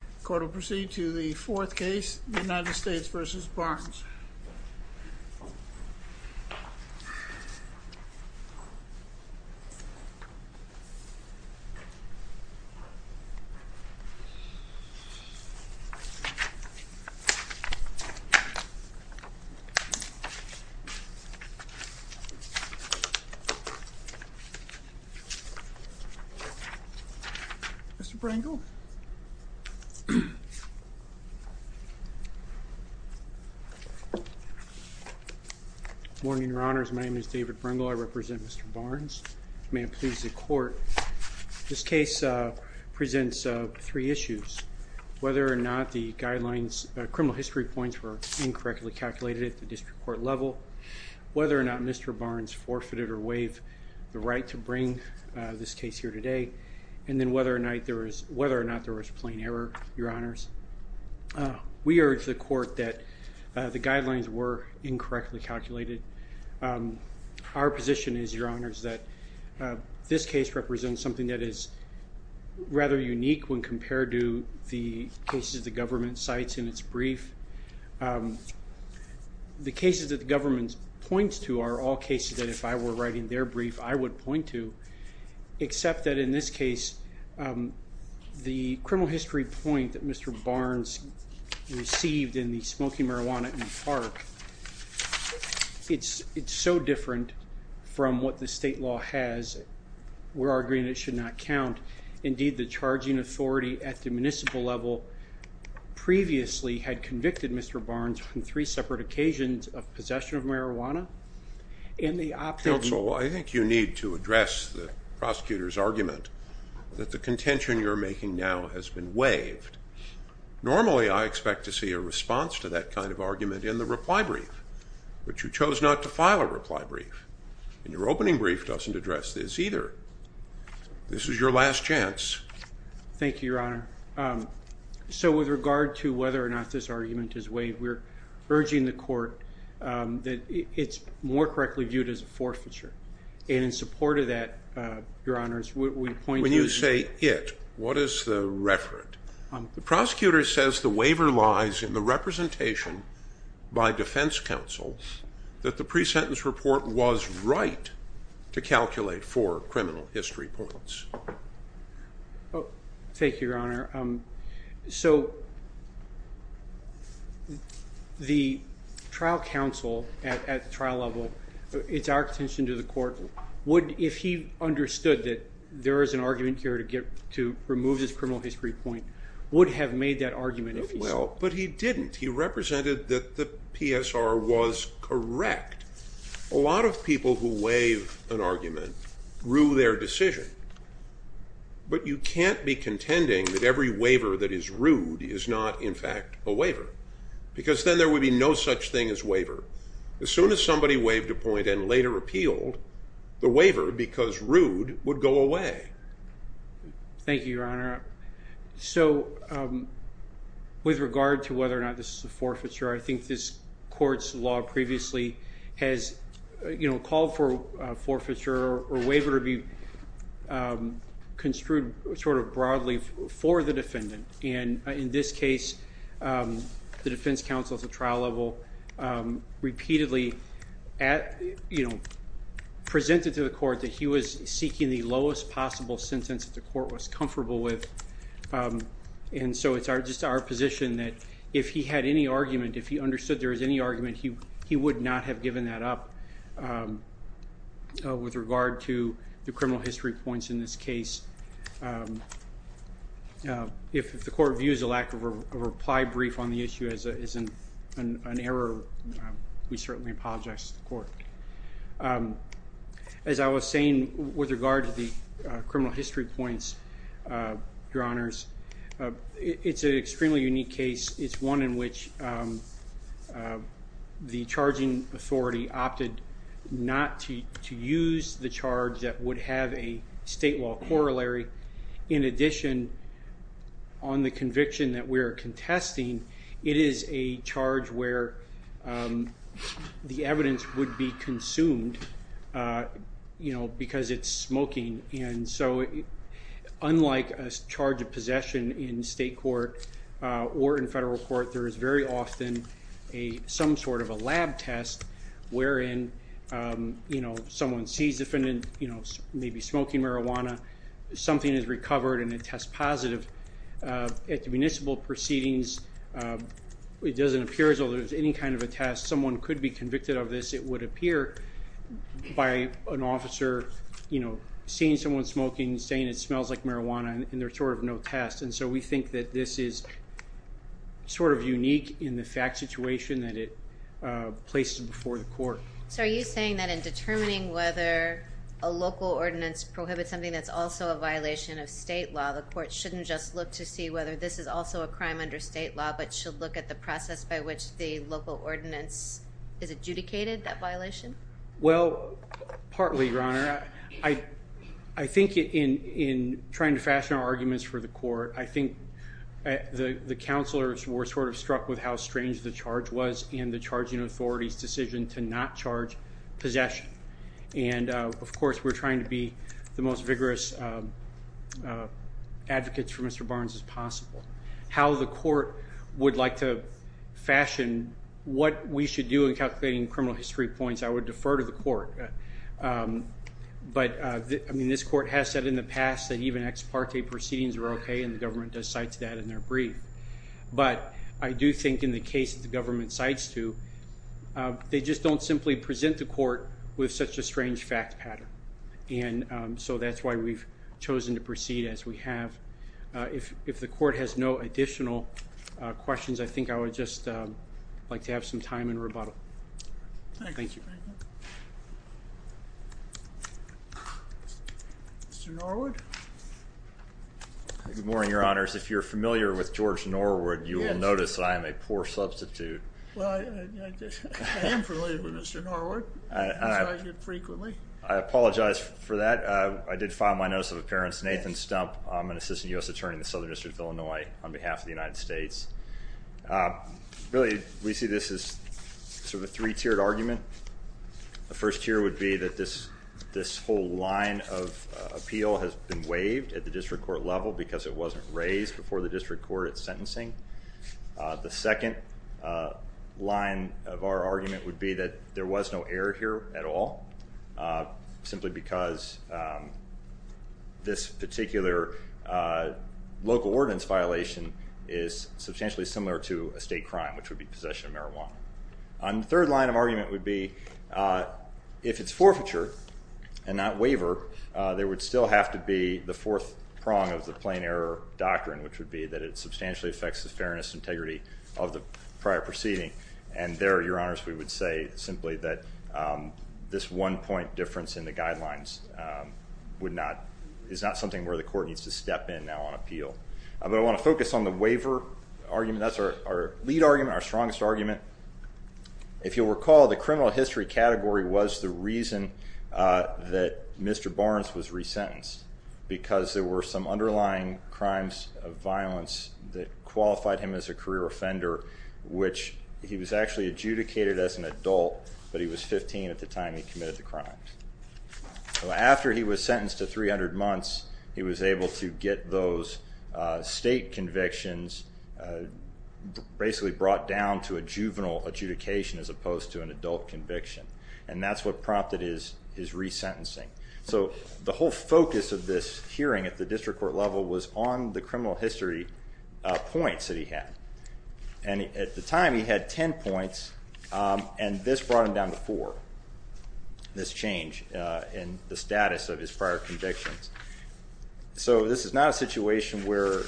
The court will proceed to the fourth case, United States v. Barnes. Mr. Brangle? Mr. Barnes, may it please the court, this case presents three issues. Whether or not the guidelines, criminal history points were incorrectly calculated at the district court level. Whether or not Mr. Barnes forfeited or waived the right to bring this case here today. And then whether or not there was plain error, your honors. We urge the court that the guidelines were incorrectly calculated. Our position is, your honors, that this case represents something that is rather unique when compared to the cases the government cites in its brief. The cases that the government points to are all cases that if I were writing their brief, I would point to, except that in this case, the criminal history point that Mr. Barnes received in the smoking marijuana in the park, it's so different from what the state law has. We're arguing it should not count. Indeed, the charging authority at the municipal level previously had convicted Mr. Barnes on three separate occasions of possession of marijuana. Counsel, I think you need to address the prosecutor's argument that the contention you're making now has been waived. Normally, I expect to see a response to that kind of argument in the reply brief, but you chose not to file a reply brief, and your opening brief doesn't address this either. This is your last chance. Thank you, your honor. So with regard to whether or not this argument is waived, we're urging the court that it's more correctly viewed as a forfeiture, and in support of that, your honors, we point to- When you say it, what is the referent? The prosecutor says the waiver lies in the representation by defense counsel that the pre-sentence report was right to calculate for criminal history points. Thank you, your honor. So the trial counsel at the trial level, it's our contention to the court, if he understood that there is an argument here to remove this criminal history point, would have made that argument if he said- Well, but he didn't. He represented that the PSR was correct. A lot of people who waive an argument rue their decision, but you can't be contending that every waiver that is rude is not, in fact, a waiver, because then there would be no such thing as waiver. As soon as somebody waived a point and later appealed, the waiver, because rude, would go away. Thank you, your honor. So with regard to whether or not this is a forfeiture, I think this court's law previously has called for forfeiture or waiver to be construed sort of broadly for the defendant. And in this case, the defense counsel at the trial level repeatedly presented to the court that he was seeking the lowest possible sentence that the court was comfortable with. And so it's just our position that if he had any argument, if he understood there was any argument, he would not have given that up. With regard to the criminal history points in this case, if the court views a lack of a reply brief on the issue as an error, we certainly apologize to the court. As I was saying with regard to the criminal history points, your honors, it's an extremely unique case. It's one in which the charging authority opted not to use the charge that would have a state law corollary. In addition, on the conviction that we're contesting, it is a charge where the evidence would be consumed because it's smoking. And so unlike a charge of possession in state court or in federal court, there is very often some sort of a lab test wherein someone sees the defendant maybe smoking marijuana, something is recovered, and it tests positive. At the municipal proceedings, it doesn't appear as though there's any kind of a test. Someone could be convicted of this. It would appear by an officer seeing someone smoking, saying it smells like marijuana, and there's sort of no test. And so we think that this is sort of unique in the fact situation that it places before the court. So are you saying that in determining whether a local ordinance prohibits something that's also a violation of state law, the court shouldn't just look to see whether this is also a crime under state law, but should look at the process by which the local ordinance is adjudicated that violation? Well, partly, Your Honor. I think in trying to fashion our arguments for the court, I think the counselors were sort of struck with how strange the charge was and the charging authority's decision to not charge possession. And, of course, we're trying to be the most vigorous advocates for Mr. Barnes as possible. How the court would like to fashion what we should do in calculating criminal history points, I would defer to the court. But, I mean, this court has said in the past that even ex parte proceedings are okay, and the government does cite to that in their brief. But I do think in the case that the government cites to, they just don't simply present the court with such a strange fact pattern. And so that's why we've chosen to proceed as we have. If the court has no additional questions, I think I would just like to have some time in rebuttal. Thank you. Mr. Norwood? Good morning, Your Honors. If you're familiar with George Norwood, you will notice I am a poor substitute. Well, I am familiar with Mr. Norwood. I see him frequently. I apologize for that. I did file my notice of appearance, Nathan Stump. I'm an assistant U.S. attorney in the Southern District of Illinois on behalf of the United States. Really, we see this as sort of a three-tiered argument. The first tier would be that this whole line of appeal has been waived at the district court level because it wasn't raised before the district court at sentencing. The second line of our argument would be that there was no error here at all, simply because this particular local ordinance violation is substantially similar to a state crime, which would be possession of marijuana. And the third line of argument would be if it's forfeiture and not waiver, there would still have to be the fourth prong of the plain error doctrine, which would be that it substantially affects the fairness and integrity of the prior proceeding. And there, Your Honors, we would say simply that this one-point difference in the guidelines is not something where the court needs to step in now on appeal. But I want to focus on the waiver argument. That's our lead argument, our strongest argument. If you'll recall, the criminal history category was the reason that Mr. Barnes was resentenced because there were some underlying crimes of violence that qualified him as a career offender, which he was actually adjudicated as an adult, but he was 15 at the time he committed the crime. So after he was sentenced to 300 months, he was able to get those state convictions basically brought down to a juvenile adjudication as opposed to an adult conviction. And that's what prompted his resentencing. So the whole focus of this hearing at the district court level was on the criminal history points that he had. And at the time, he had 10 points, and this brought him down to four, this change in the status of his prior convictions. So this is not a situation where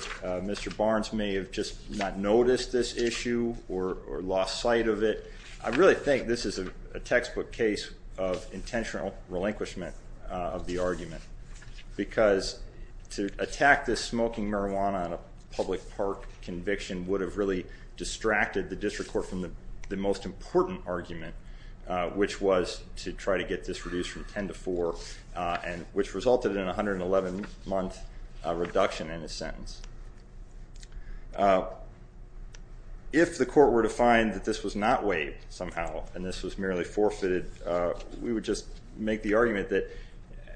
Mr. Barnes may have just not noticed this issue or lost sight of it. I really think this is a textbook case of intentional relinquishment of the argument because to attack this smoking marijuana on a public park conviction would have really distracted the district court from the most important argument, which was to try to get this reduced from 10 to 4, which resulted in a 111-month reduction in his sentence. If the court were to find that this was not waived somehow and this was merely forfeited, we would just make the argument that,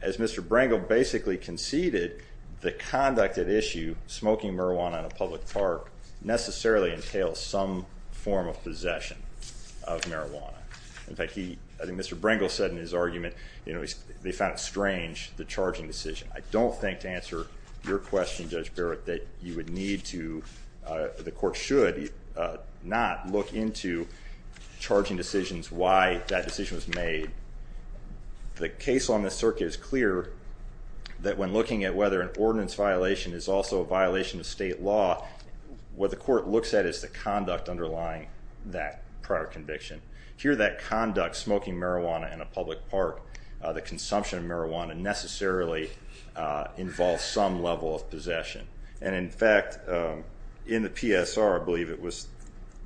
as Mr. Brangle basically conceded, the conduct at issue, smoking marijuana on a public park, necessarily entails some form of possession of marijuana. In fact, I think Mr. Brangle said in his argument they found it strange, the charging decision. I don't think, to answer your question, Judge Barrett, that you would need to, the court should not look into charging decisions, why that decision was made. The case on this circuit is clear that when looking at whether an ordinance violation is also a violation of state law, what the court looks at is the conduct underlying that prior conviction. Here that conduct, smoking marijuana in a public park, the consumption of marijuana, necessarily involves some level of possession. In fact, in the PSR, I believe it was,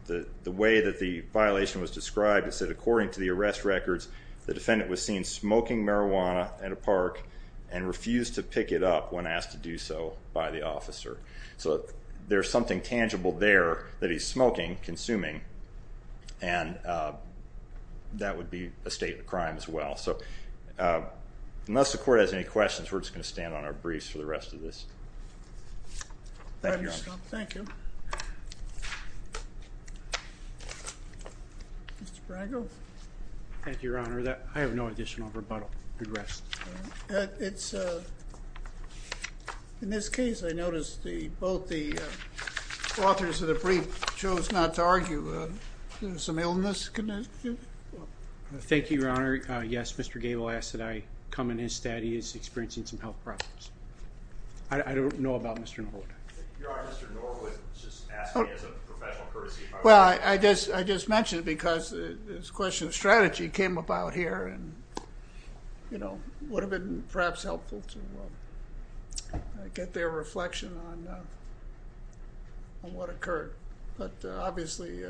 the way that the violation was described, it said according to the arrest records, the defendant was seen smoking marijuana at a park and refused to pick it up when asked to do so by the officer. So there's something tangible there that he's smoking, consuming, and that would be a state of crime as well. So unless the court has any questions, we're just going to stand on our briefs for the rest of this. Thank you, Your Honor. Thank you. Mr. Brangle. Thank you, Your Honor. I have no additional rebuttal. Good rest. In this case, I noticed both the authors of the brief chose not to argue. Is there some illness? Thank you, Your Honor. Yes, Mr. Gabel asked that I come in his stead. He is experiencing some health problems. I don't know about Mr. Norwood. Your Honor, Mr. Norwood just asked me as a professional courtesy. Well, I just mentioned it because this question of strategy came about here and, you know, it would have been perhaps helpful to get their reflection on what occurred. But obviously,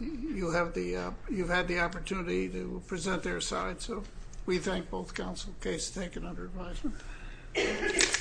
you've had the opportunity to present their side, so we thank both counsel cases taken under advisement.